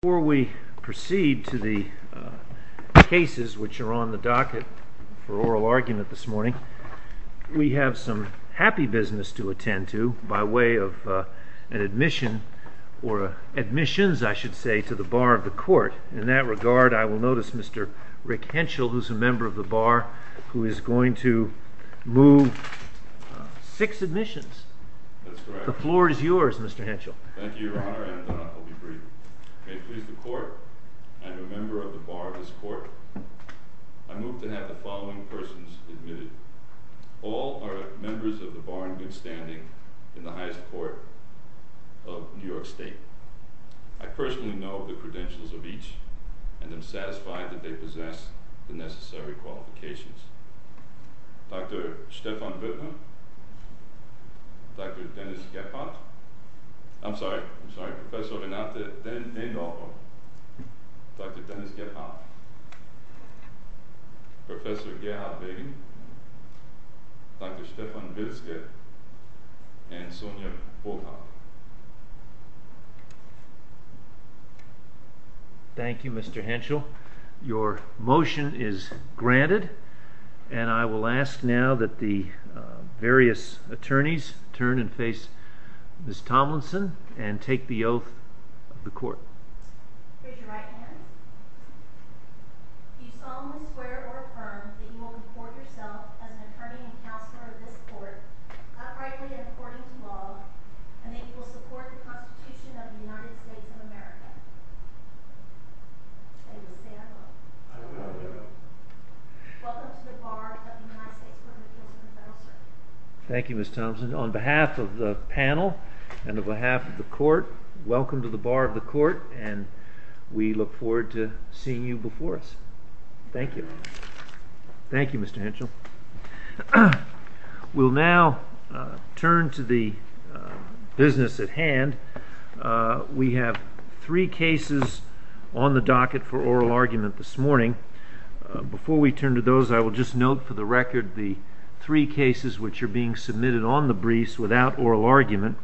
Before we proceed to the cases which are on the docket for oral argument this morning, we have some happy business to attend to by way of an admission or admissions, I should say, to the bar of the court. In that regard, I will notice Mr. Rick Henschel, who's a member of the bar, who is going to move six admissions. That's correct. The floor is yours, Mr. Henschel. Thank you, Your Honor, and I'll be brief. May it please the court, I am a member of the bar of this court. I move to have the following persons admitted. All are members of the bar in good standing in the highest court of New York State. I personally know the credentials of each and am satisfied that they possess the necessary qualifications. Dr. Stephan Bittman, Dr. Dennis Gephardt, I'm sorry, I'm sorry, Professor Renate Dendolfo, Dr. Dennis Gephardt, Professor Geha Begum, Dr. Stephan Wilske, and Sonja Boghardt. Thank you, Mr. Henschel. Your motion is granted, and I will ask now that the various attorneys turn and face Ms. Tomlinson and take the oath of the court. Raise your right hand. Do you solemnly swear or affirm that you will report yourself as an attorney and counselor of this court, uprightly and according to law, and that you will support the Constitution of the United States of America? I do. Say I will. I will. Welcome to the bar of the United States Court of Appeals and the Federal Circuit. Thank you, Ms. Tomlinson. On behalf of the panel and on behalf of the court, welcome to the bar of the court, and we look forward to seeing you before us. Thank you. Thank you, Mr. Henschel. We'll now turn to the business at hand. We have three cases on the docket for oral argument this morning. Before we turn to those, I will just note for the record the three cases which are being submitted on the briefs without oral argument.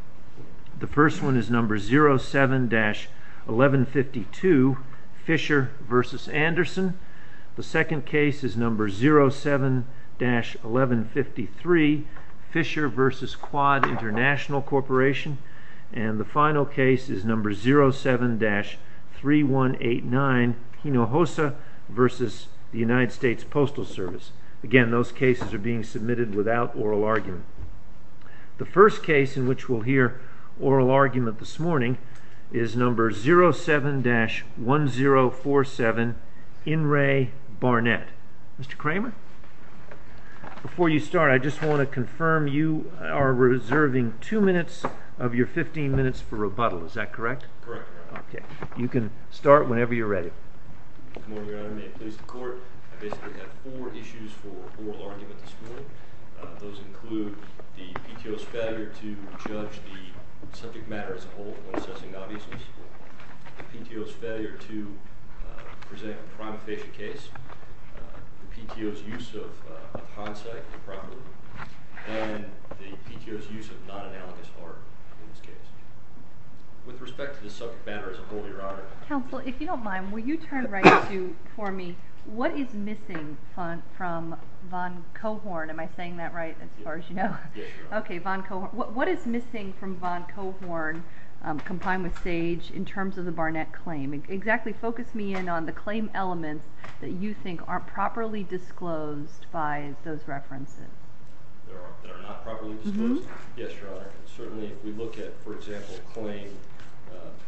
The first one is number 07-1152, Fisher v. Anderson. The second case is number 07-1153, Fisher v. Quad International Corporation. And the final case is number 07-3189, Hinojosa v. the United States Postal Service. Again, those cases are being submitted without oral argument. The first case in which we'll hear oral argument this morning is number 07-1047, In re Barnett. Mr. Kramer, before you start, I just want to confirm you are reserving two minutes of your 15 minutes for rebuttal. Is that correct? Correct, Your Honor. Okay. You can start whenever you're ready. Good morning, Your Honor. May it please the court, I basically have four issues for oral argument this morning. Those include the PTO's failure to judge the subject matter as a whole when assessing obviousness, the PTO's failure to present a prima facie case, the PTO's use of hindsight improperly, and the PTO's use of non-analogous art in this case. With respect to the subject matter as a whole, Your Honor. Counsel, if you don't mind, will you turn right to, for me, what is missing from Von Cohorn? Am I saying that right, as far as you know? Yes, Your Honor. Okay, Von Cohorn. What is missing from Von Cohorn, combined with Sage, in terms of the Barnett claim? Exactly, focus me in on the claim elements that you think aren't properly disclosed by those references. That are not properly disclosed? Yes, Your Honor. Certainly, if we look at, for example, claim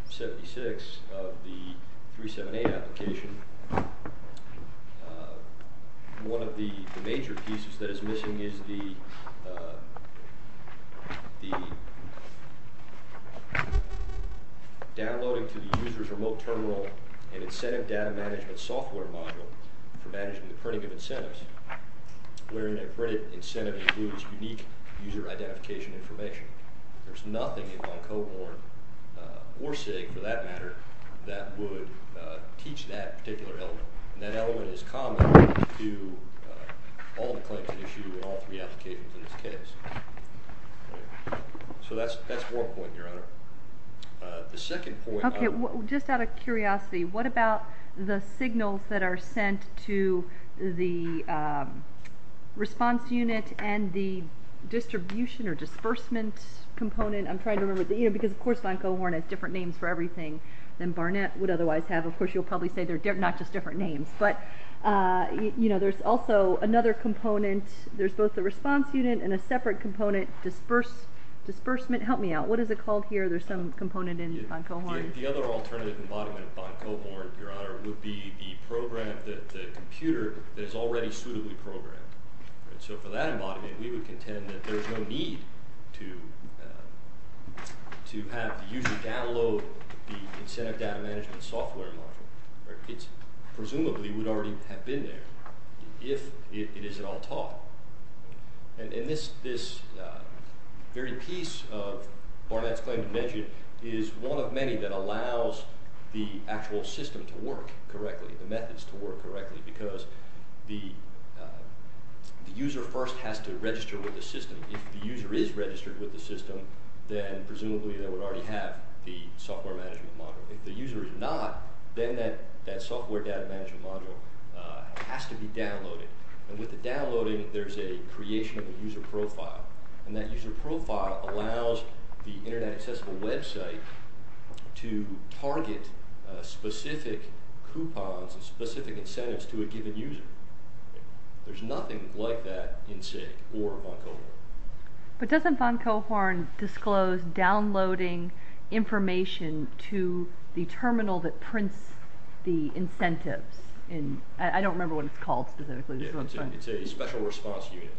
76 of the 378 application, one of the major pieces that is missing is the downloading to the user's remote terminal an incentive data management software module for managing the printing of incentives, wherein a printed incentive includes unique user identification information. There's nothing in Von Cohorn, or Sage, for that matter, that would teach that particular element. That element is common to all the claims issued in all three applications in this case. So that's one point, Your Honor. The second point... Okay, just out of curiosity, what about the signals that are sent to the response unit and the distribution or disbursement component? I'm trying to remember, because of course, Von Cohorn has different names for everything than Barnett would otherwise have. Of course, you'll probably say they're not just different names. But, you know, there's also another component. There's both the response unit and a separate component, disbursement. Help me out. What is it called here? There's some component in Von Cohorn. The other alternative embodiment of Von Cohorn, Your Honor, would be the program, the computer, that is already suitably programmed. So for that embodiment, we would contend that there's no need to have the user download the incentive data management software module. It presumably would already have been there if it is at all taught. And this very piece of Barnett's claim to mention is one of many that allows the actual system to work correctly, the methods to work correctly, because the user first has to register with the system. If the user is registered with the system, then presumably they would already have the software management module. If the user is not, then that software data management module has to be downloaded. And with the downloading, there's a creation of a user profile. And that user profile allows the Internet Accessible website to target specific coupons and specific incentives to a given user. There's nothing like that in SIG or Von Cohorn. But doesn't Von Cohorn disclose downloading information to the terminal that prints the incentives? I don't remember what it's called specifically. It's a special response unit.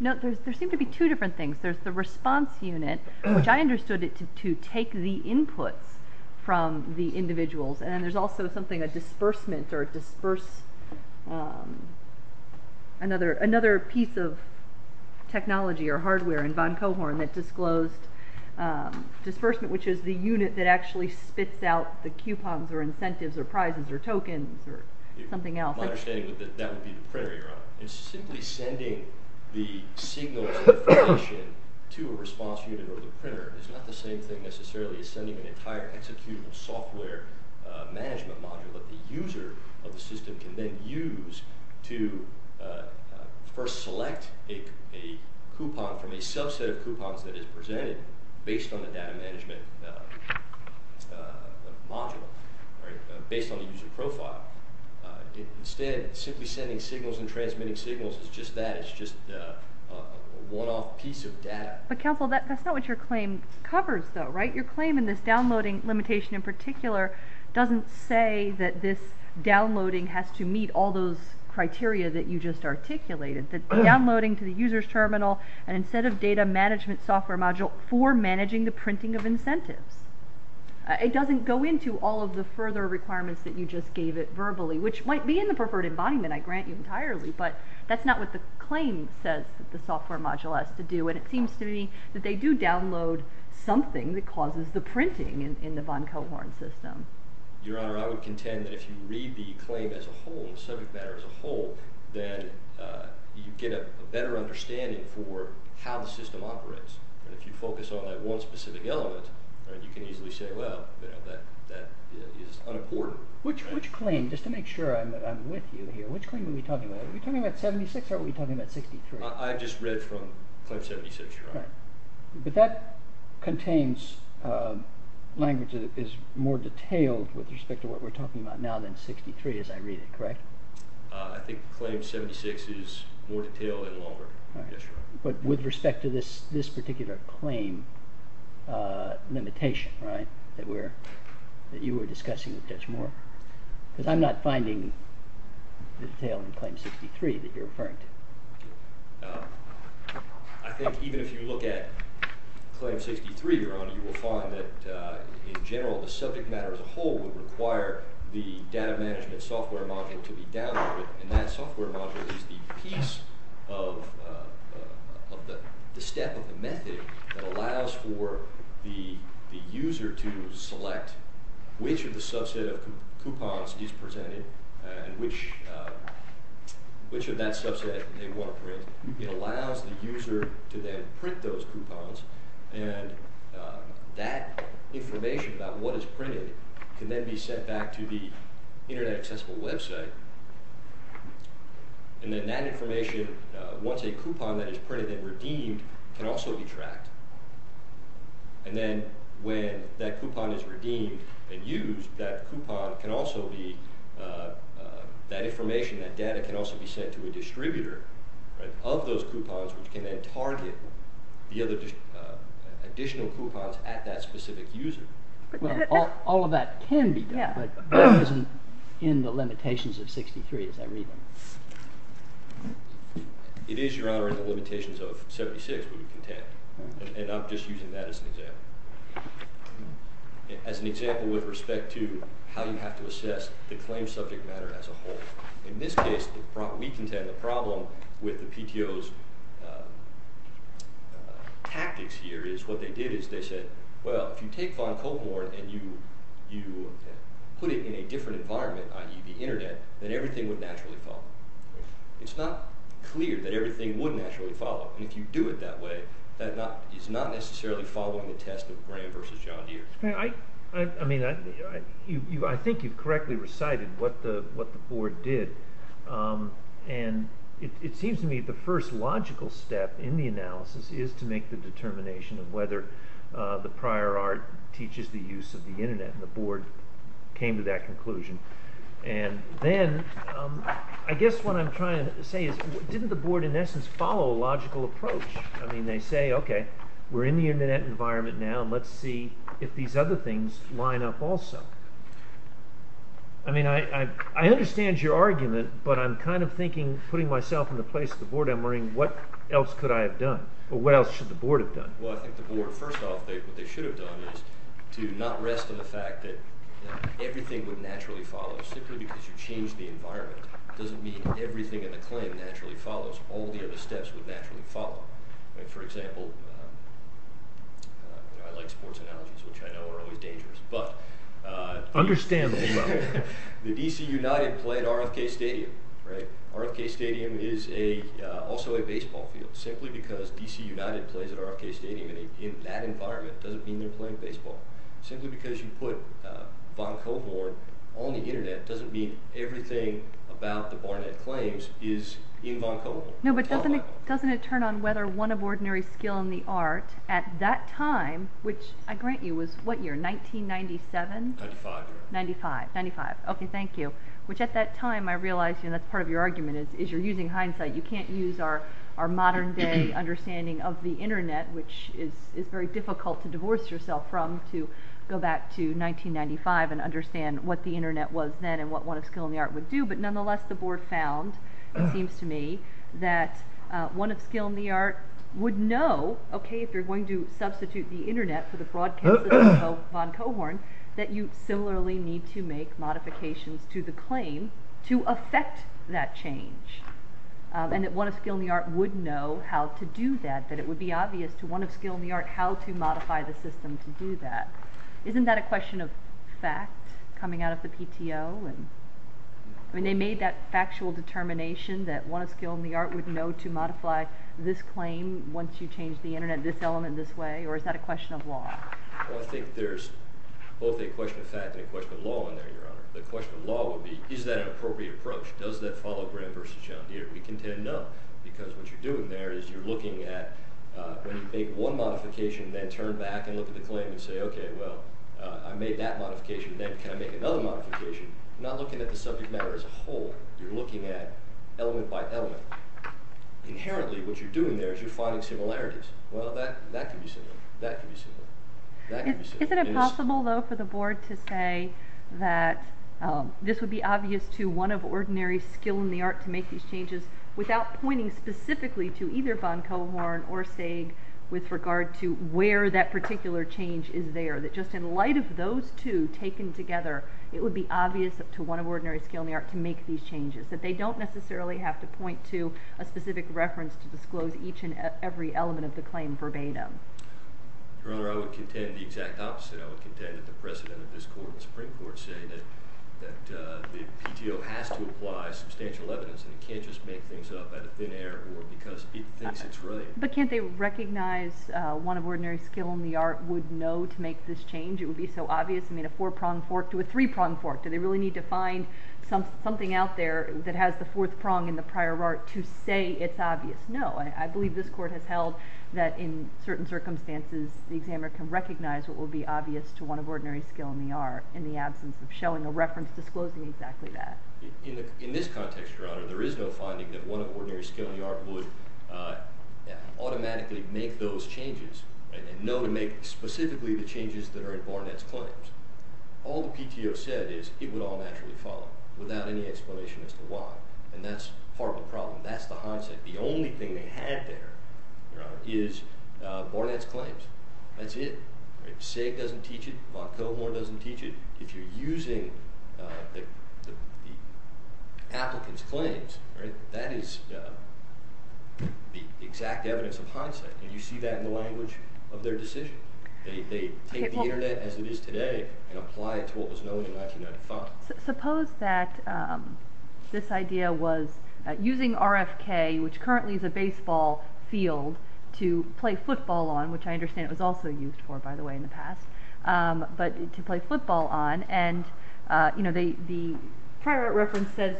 No, there seem to be two different things. There's the response unit, which I understood it to take the inputs from the individuals. And then there's also something, a disbursement or another piece of technology or hardware in Von Cohorn that disclosed disbursement, which is the unit that actually spits out the coupons or incentives or prizes or tokens or something else. My understanding is that that would be the printer you're on. And simply sending the signal to a response unit or the printer is not the same thing necessarily as sending an entire executable software management module that the user of the system can then use to first select a coupon from a subset of coupons that is presented based on the data management module, based on the user profile. Instead, simply sending signals and transmitting signals is just that. It's just a one-off piece of data. But counsel, that's not what your claim covers though, right? Your claim in this downloading limitation in particular doesn't say that this downloading has to meet all those criteria that you just articulated, that downloading to the user's terminal and instead of data management software module for managing the printing of incentives. It doesn't go into all of the further requirements that you just gave it verbally, which might be in the preferred embodiment, I grant you entirely, but that's not what the claim says that the software module has to do. And it seems to me that they do download something that causes the printing in the Von Cohorn system. Your Honor, I would contend that if you read the claim as a whole, the subject matter as a whole, then you get a better understanding for how the system operates. And if you focus on that one specific element, you can easily say, well, that is unimportant. Which claim, just to make sure I'm with you here, which claim are we talking about? Are we talking about 76 or are we talking about 63? I just read from Claim 76, Your Honor. But that contains language that is more detailed with respect to what we're talking about now than 63 as I read it, correct? I think Claim 76 is more detailed and longer, yes, Your Honor. But with respect to this particular claim limitation, right, that you were discussing with Judge Moore, because I'm not finding the detail in Claim 63 that you're referring to. I think even if you look at Claim 63, Your Honor, you will find that in general the subject matter as a whole would require the data management software module to be downloaded, and that software module is the piece of the step of the method that allows for the user to select which of the subset of coupons is presented and which of that subset they want to print. It allows the user to then print those coupons, and that information about what is printed can then be sent back to the Internet Accessible website, and then that information, once a coupon that is printed and redeemed, can also be tracked. And then when that coupon is redeemed and used, that coupon can also be, that information, that data, can also be sent to a distributor of those coupons which can then target the other additional coupons at that specific user. Well, all of that can be done, but that isn't in the limitations of 63, as I read them. It is, Your Honor, in the limitations of 76, we contend, and I'm just using that as an example. As an example with respect to how you have to assess the claim subject matter as a whole, in this case, we contend the problem with the PTO's tactics here is what they did is they said, well, if you take Von Coltmore and you put it in a different environment, i.e., the Internet, then everything would naturally follow. It's not clear that everything would naturally follow, and if you do it that way, that is not necessarily following the test of Graham versus John Deere. I mean, I think you've correctly recited what the Board did, and it seems to me the first logical step in the analysis is to make the determination of whether the prior art teaches the use of the Internet, and the Board came to that conclusion. And then I guess what I'm trying to say is didn't the Board, in essence, follow a logical approach? I mean, they say, okay, we're in the Internet environment now, and let's see if these other things line up also. I mean, I understand your argument, but I'm kind of thinking, putting myself in the place of the Board, I'm wondering what else could I have done, or what else should the Board have done? Well, I think the Board, first off, what they should have done is to not rest on the fact that everything would naturally follow simply because you changed the environment. It doesn't mean everything in the claim naturally follows. All the other steps would naturally follow. For example, I like sports analogies, which I know are always dangerous, but... Understandable level. The D.C. United play at RFK Stadium, right? In that environment, it doesn't mean they're playing baseball. Simply because you put Vancouver on the Internet doesn't mean everything about the Barnett claims is in Vancouver. No, but doesn't it turn on whether one of ordinary skill in the art at that time, which I grant you was what year, 1997? 95. 95. Okay, thank you. Which at that time I realized, and that's part of your argument, is you're using hindsight. You can't use our modern-day understanding of the Internet, which is very difficult to divorce yourself from, to go back to 1995 and understand what the Internet was then and what one of skill in the art would do. But nonetheless, the Board found, it seems to me, that one of skill in the art would know, okay, if you're going to substitute the Internet for the broadcast of Van Cohorn, that you similarly need to make modifications to the claim to affect that change. And that one of skill in the art would know how to do that, that it would be obvious to one of skill in the art how to modify the system to do that. Isn't that a question of fact coming out of the PTO? I mean, they made that factual determination that one of skill in the art would know to modify this claim once you change the Internet this element this way, or is that a question of law? Well, I think there's both a question of fact and a question of law in there, Your Honor. The question of law would be, is that an appropriate approach? Does that follow Graham v. John Deere? We contend no, because what you're doing there is you're looking at when you make one modification and then turn back and look at the claim and say, okay, well, I made that modification. Then can I make another modification? You're not looking at the subject matter as a whole. You're looking at element by element. Inherently, what you're doing there is you're finding similarities. Well, that can be similar. That can be similar. That can be similar. Isn't it possible, though, for the Board to say that this would be obvious to one of ordinary skill in the art to make these changes without pointing specifically to either Von Cohorn or Saig with regard to where that particular change is there, that just in light of those two taken together, it would be obvious to one of ordinary skill in the art to make these changes, that they don't necessarily have to point to a specific reference to disclose each and every element of the claim verbatim? Your Honor, I would contend the exact opposite. I would contend that the precedent of this Court, the Supreme Court, say that the PTO has to apply substantial evidence, and it can't just make things up out of thin air or because it thinks it's right. But can't they recognize one of ordinary skill in the art would know to make this change? It would be so obvious. I mean, a four-pronged fork to a three-pronged fork. Do they really need to find something out there that has the fourth prong in the prior art to say it's obvious? No. I believe this Court has held that in certain circumstances the examiner can recognize what will be obvious to one of ordinary skill in the art in the absence of showing a reference disclosing exactly that. In this context, Your Honor, there is no finding that one of ordinary skill in the art would automatically make those changes and know to make specifically the changes that are in Barnett's claims. All the PTO said is it would all naturally follow without any explanation as to why, and that's part of the problem. That's the hindsight. The only thing they had there is Barnett's claims. That's it. SIG doesn't teach it. Montgomery doesn't teach it. If you're using the applicant's claims, that is the exact evidence of hindsight, and you see that in the language of their decision. They take the Internet as it is today and apply it to what was known in 1995. Suppose that this idea was using RFK, which currently is a baseball field, to play football on, which I understand it was also used for, by the way, in the past, but to play football on, and the prior art reference says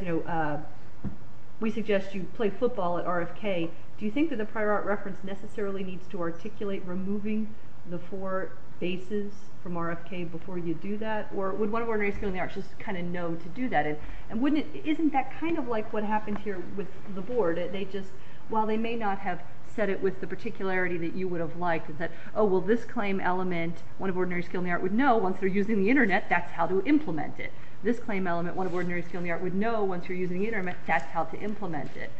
we suggest you play football at RFK. Do you think that the prior art reference necessarily needs to articulate removing the four bases from RFK before you do that, or would one of ordinary skill in the arts just kind of know to do that? Isn't that kind of like what happened here with the board? While they may not have said it with the particularity that you would have liked, oh, well, this claim element one of ordinary skill in the arts would know once they're using the Internet, that's how to implement it. This claim element one of ordinary skill in the arts would know once they're using the Internet, that's how to implement it.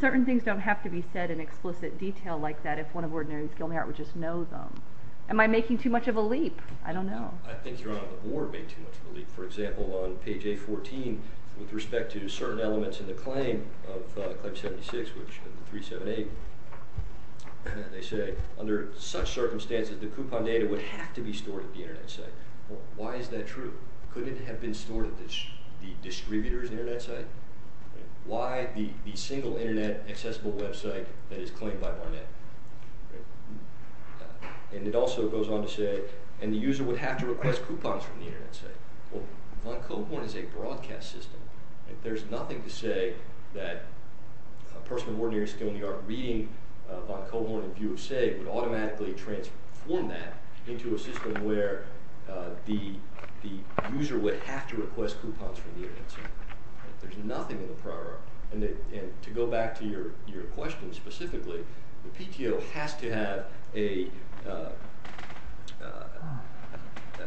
Certain things don't have to be said in explicit detail like that if one of ordinary skill in the arts would just know them. Am I making too much of a leap? I don't know. I think you're on the board making too much of a leap. For example, on page A14, with respect to certain elements in the claim of Claim 76, which is 378, they say, under such circumstances, the coupon data would have to be stored at the Internet site. Why is that true? Couldn't it have been stored at the distributor's Internet site? Why the single Internet accessible website that is claimed by Barnett? And it also goes on to say, and the user would have to request coupons from the Internet site. Well, Von Cohorn is a broadcast system. There's nothing to say that a person of ordinary skill in the arts reading Von Cohorn and view of SEG would automatically transform that into a system where the user would have to request coupons from the Internet site. There's nothing in the prior art. And to go back to your question specifically, the PTO has to have a...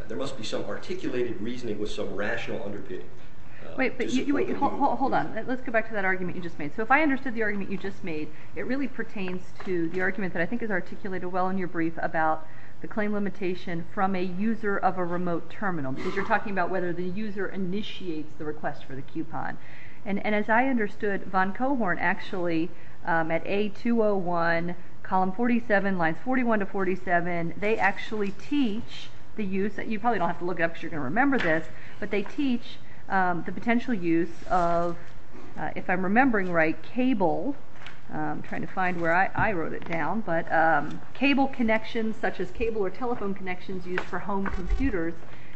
There must be some articulated reasoning with some rational underpinning. Wait, hold on. Let's go back to that argument you just made. So if I understood the argument you just made, it really pertains to the argument that I think is articulated well in your brief about the claim limitation from a user of a remote terminal, because you're talking about whether the user initiates the request for the coupon. And as I understood, Von Cohorn actually, at A201, column 47, lines 41 to 47, they actually teach the use... You probably don't have to look it up because you're going to remember this, but they teach the potential use of, if I'm remembering right, cable, I'm trying to find where I wrote it down, but cable connections such as cable or telephone connections used for home computers,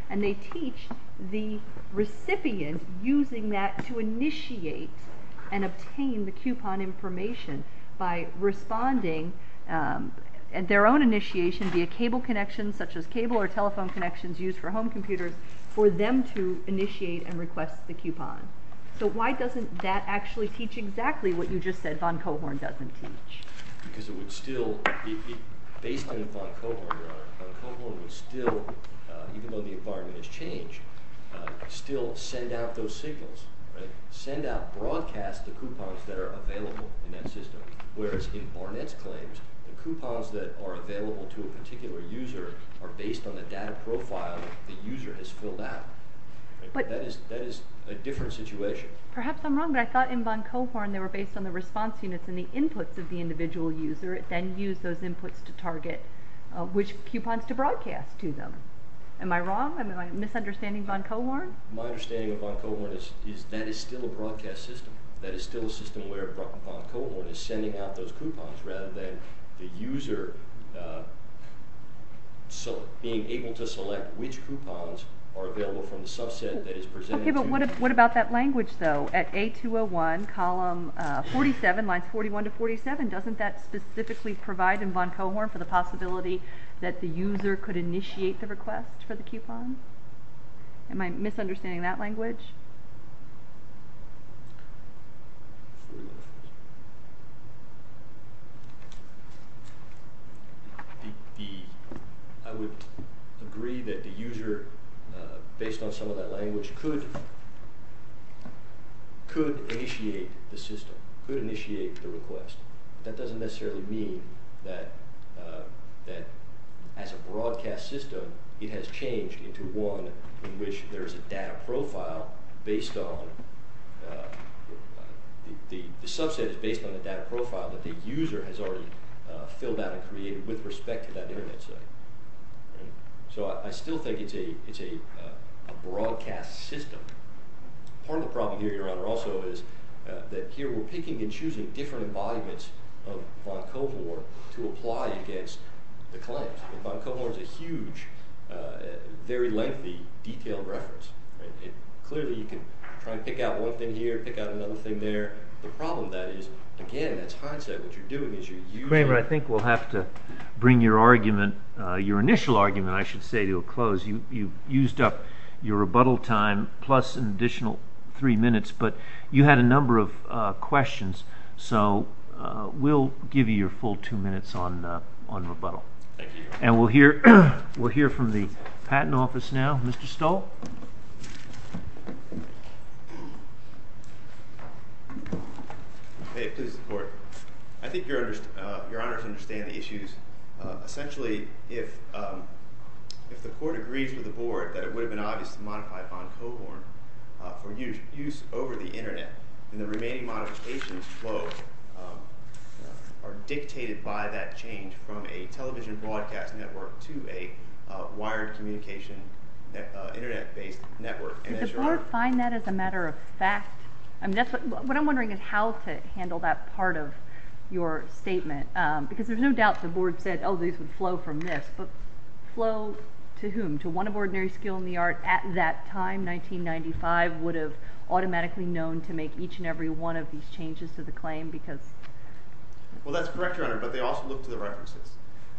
and they teach the recipient using that to initiate and obtain the coupon information by responding at their own initiation via cable connections such as cable or telephone connections used for home computers for them to initiate and request the coupon. So why doesn't that actually teach exactly what you just said Von Cohorn doesn't teach? Because it would still... even when the environment has changed, still send out those signals. Send out, broadcast the coupons that are available in that system. Whereas in Barnett's claims, the coupons that are available to a particular user are based on the data profile the user has filled out. That is a different situation. Perhaps I'm wrong, but I thought in Von Cohorn they were based on the response units and the inputs of the individual user, then use those inputs to target which coupons to broadcast to them. Am I wrong? Am I misunderstanding Von Cohorn? My understanding of Von Cohorn is that is still a broadcast system. That is still a system where Von Cohorn is sending out those coupons rather than the user being able to select which coupons are available from the subset that is presented to them. Okay, but what about that language, though? At A201, column 47, lines 41 to 47, doesn't that specifically provide in Von Cohorn for the possibility that the user could initiate the request for the coupon? Am I misunderstanding that language? I would agree that the user, based on some of that language, could initiate the system, could initiate the request. That doesn't necessarily mean that as a broadcast system it has changed into one in which there is a data profile based on, the subset is based on the data profile that the user has already filled out and created with respect to that Internet site. So I still think it's a broadcast system. Part of the problem here, Your Honor, also is that here we're picking and choosing different embodiments of Von Cohorn to apply against the claims. Von Cohorn is a huge, very lengthy, detailed reference. Clearly, you can try to pick out one thing here, pick out another thing there. The problem, that is, again, that's hindsight. What you're doing is you're using— Your Honor, I think we'll have to bring your argument, your initial argument, I should say, to a close. You've used up your rebuttal time plus an additional three minutes, but you had a number of questions. So we'll give you your full two minutes on rebuttal. Thank you. And we'll hear from the Patent Office now. Mr. Stoll? Hey, please, Your Honor. I think Your Honors understand the issues. Essentially, if the Court agrees with the Board that it would have been obvious to modify Von Cohorn for use over the Internet, then the remaining modifications flow are dictated by that change from a television broadcast network to a wired communication Internet-based network. Did the Board find that as a matter of fact? What I'm wondering is how to handle that part of your statement because there's no doubt the Board said, oh, these would flow from this. But flow to whom? To one of ordinary skill in the art at that time, 1995, would have automatically known to make each and every one of these changes to the claim. Well, that's correct, Your Honor, but they also look to the references.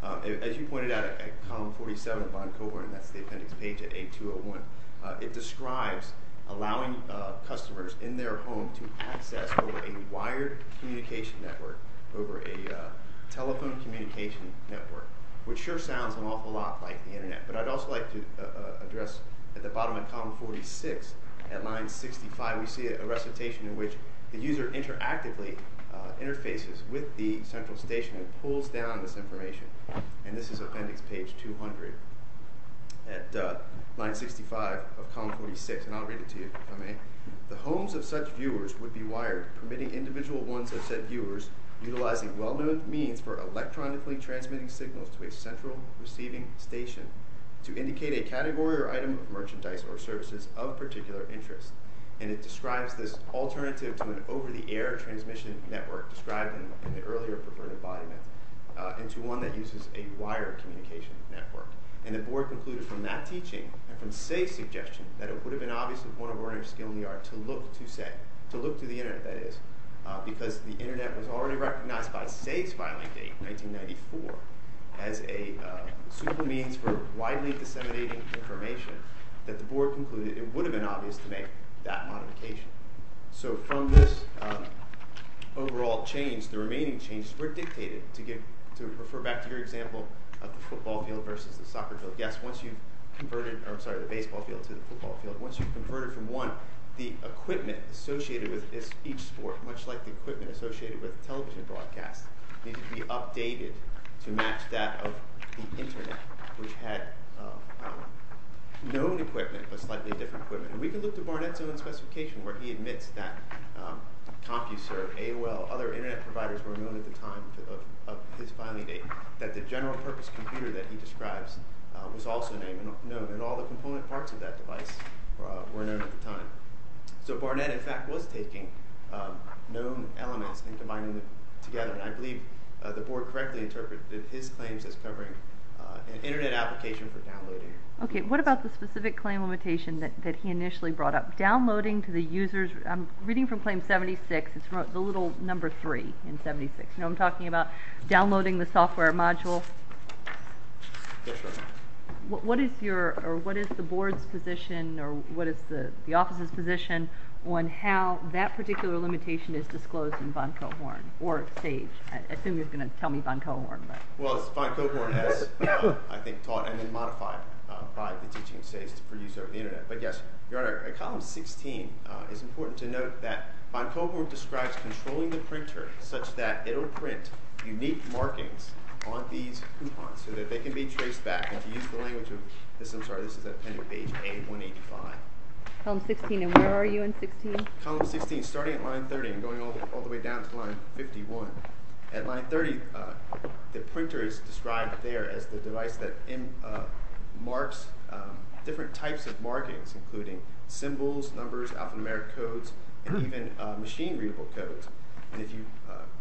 As you pointed out at Column 47 of Von Cohorn, that's the appendix page at A201, it describes allowing customers in their home to access over a wired communication network, which sure sounds an awful lot like the Internet. But I'd also like to address at the bottom of Column 46, at Line 65, we see a recitation in which the user interactively interfaces with the central station and pulls down this information. And this is appendix page 200 at Line 65 of Column 46. And I'll read it to you, if I may. The homes of such viewers would be wired, permitting individual ones of said viewers utilizing well-known means for electronically transmitting signals to a central receiving station to indicate a category or item of merchandise or services of particular interest. And it describes this alternative to an over-the-air transmission network described in the earlier perverted body myth into one that uses a wired communication network. And the Board concluded from that teaching and from Say's suggestion that it would have been obvious to one of ordinary skill in the art to look to Say, to look to the Internet, that is, because the Internet was already recognized by Say's filing date, 1994, as a super means for widely disseminating information, that the Board concluded it would have been obvious to make that modification. So from this overall change, the remaining changes were dictated, to refer back to your example of the football field versus the soccer field. Yes, once you've converted, or I'm sorry, the baseball field to the football field, once you've converted from one, the equipment associated with each sport, much like the equipment associated with television broadcast, needs to be updated to match that of the Internet, which had known equipment but slightly different equipment. And we can look to Barnett's own specification, where he admits that CompuServe, AOL, other Internet providers were known at the time of his filing date, that the general purpose computer that he describes was also known, and all the component parts of that device were known at the time. So Barnett, in fact, was taking known elements and combining them together. And I believe the Board correctly interpreted his claims as covering an Internet application for downloading. Okay, what about the specific claim limitation that he initially brought up? Downloading to the users, I'm reading from Claim 76, it's the little number three in 76. You know, I'm talking about downloading the software module. Yes, ma'am. What is the Board's position, or what is the Office's position, on how that particular limitation is disclosed in Von Cohorn, or Sage? I assume you're going to tell me Von Cohorn. Well, Von Cohorn has, I think, taught and then modified by the teaching of Sage to produce over the Internet. But yes, Your Honor, at column 16, it's important to note that Von Cohorn describes controlling the printer such that it'll print unique markings on these coupons so that they can be traced back. And to use the language of this, I'm sorry, this is at page A185. Column 16, and where are you in 16? Column 16, starting at line 30 and going all the way down to line 51. At line 30, the printer is described there as the device that marks different types of markings, including symbols, numbers, alphanumeric codes, and even machine-readable codes. And if you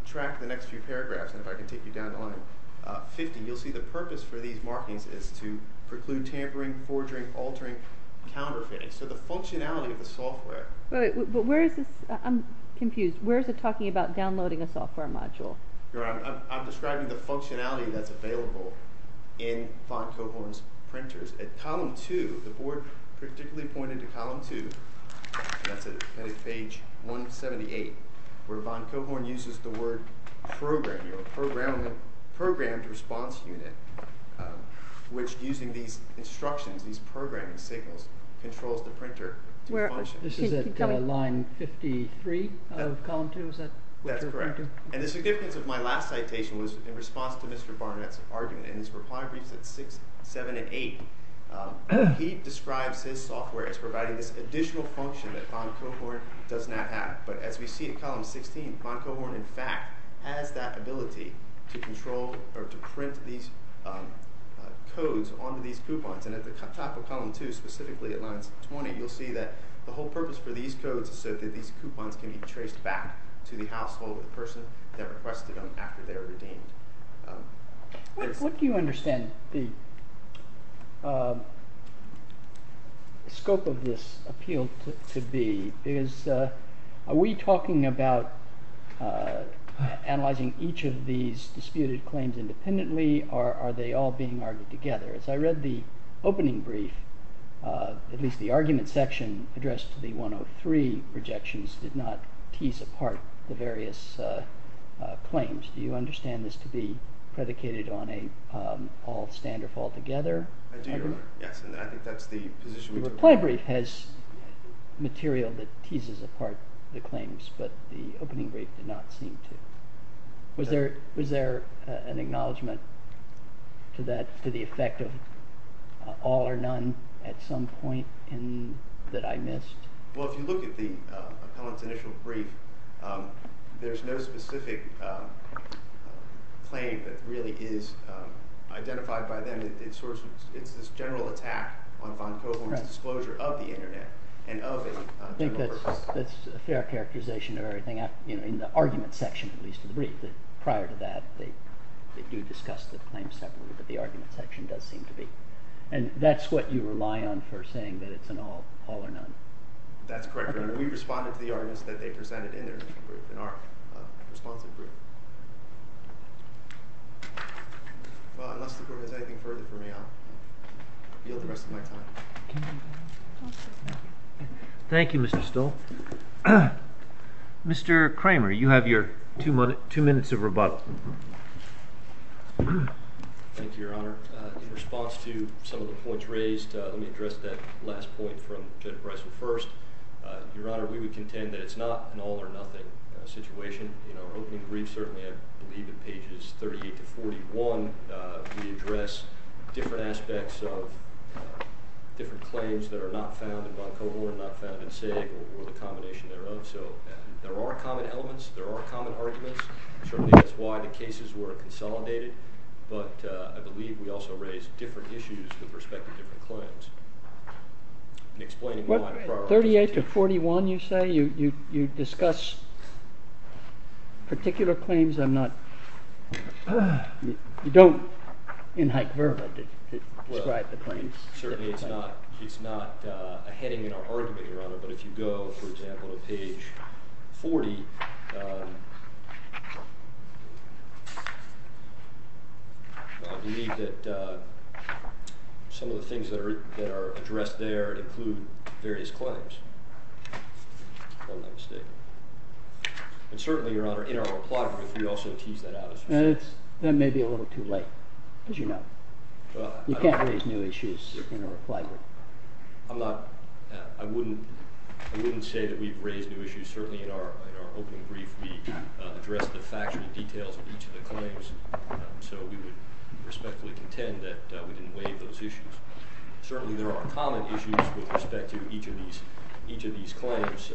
track the next few paragraphs, and if I can take you down to line 50, you'll see the purpose for these markings is to preclude tampering, forging, altering, counterfeiting. So the functionality of the software... But where is this? I'm confused. Where is it talking about downloading a software module? Your Honor, I'm describing the functionality that's available in Von Cohorn's printers. At column 2, the board particularly pointed to column 2, and that's at page 178, where Von Cohorn uses the word programming or programmed response unit, which using these instructions, these programming signals, controls the printer to function. This is at line 53 of column 2? That's correct. And the significance of my last citation was in response to Mr. Barnett's argument. In his reply briefs at 6, 7, and 8, he describes his software as providing this additional function that Von Cohorn does not have. But as we see at column 16, Von Cohorn, in fact, has that ability to control or to print these codes onto these coupons. And at the top of column 2, specifically at line 20, you'll see that the whole purpose for these codes is so that these coupons can be traced back to the household or the person that requested them after they were redeemed. What do you understand the scope of this appeal to be? Are we talking about analyzing each of these disputed claims independently, or are they all being argued together? As I read the opening brief, at least the argument section addressed to the 103 rejections did not tease apart the various claims. Do you understand this to be predicated on an all-stand-or-fall-together argument? I do, yes, and I think that's the position we took. The reply brief has material that teases apart the claims, but the opening brief did not seem to. Was there an acknowledgment to the effect of all or none at some point that I missed? Well, if you look at the appellant's initial brief, there's no specific claim that really is identified by them. It's this general attack on Von Cohorn's disclosure of the Internet and of a general purpose. That's a fair characterization of everything in the argument section, at least in the brief. Prior to that, they do discuss the claims separately, but the argument section does seem to be. And that's what you rely on for saying that it's an all or none? That's correct, Your Honor. We responded to the arguments that they presented in their brief, in our responsive brief. Well, unless the Court has anything further for me, I'll yield the rest of my time. Thank you, Mr. Stoll. Mr. Kramer, you have your two minutes of rebuttal. Thank you, Your Honor. In response to some of the points raised, let me address that last point from Judge Bressel first. Your Honor, we would contend that it's not an all or nothing situation. In our opening brief, certainly I believe in pages 38 to 41, we address different aspects of different claims that are not found in Von Cohorn, not found in Saig, or the combination thereof. So there are common elements, there are common arguments. Certainly that's why the cases were consolidated, but I believe we also raised different issues with respect to different claims. 38 to 41, you say? You discuss particular claims? You don't, in hyperbole, describe the claims. Certainly it's not a heading in our argument, Your Honor, but if you go, for example, to page 40, I believe that some of the things that are addressed there include various claims, if I'm not mistaken. And certainly, Your Honor, in our reply brief, we also tease that out. That may be a little too late, as you know. You can't raise new issues in a reply brief. I wouldn't say that we've raised new issues. Certainly in our opening brief, we addressed the factual details of each of the claims, so we would respectfully contend that we didn't waive those issues. Certainly there are common issues with respect to each of these claims.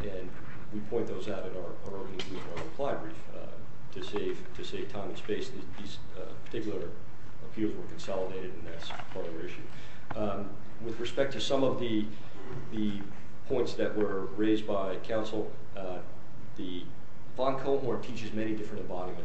And we point those out in our reply brief to save time and space. These particular appeals were consolidated, and that's part of the reason. With respect to some of the points that were raised by counsel, the bond cohort teaches many different embodiments.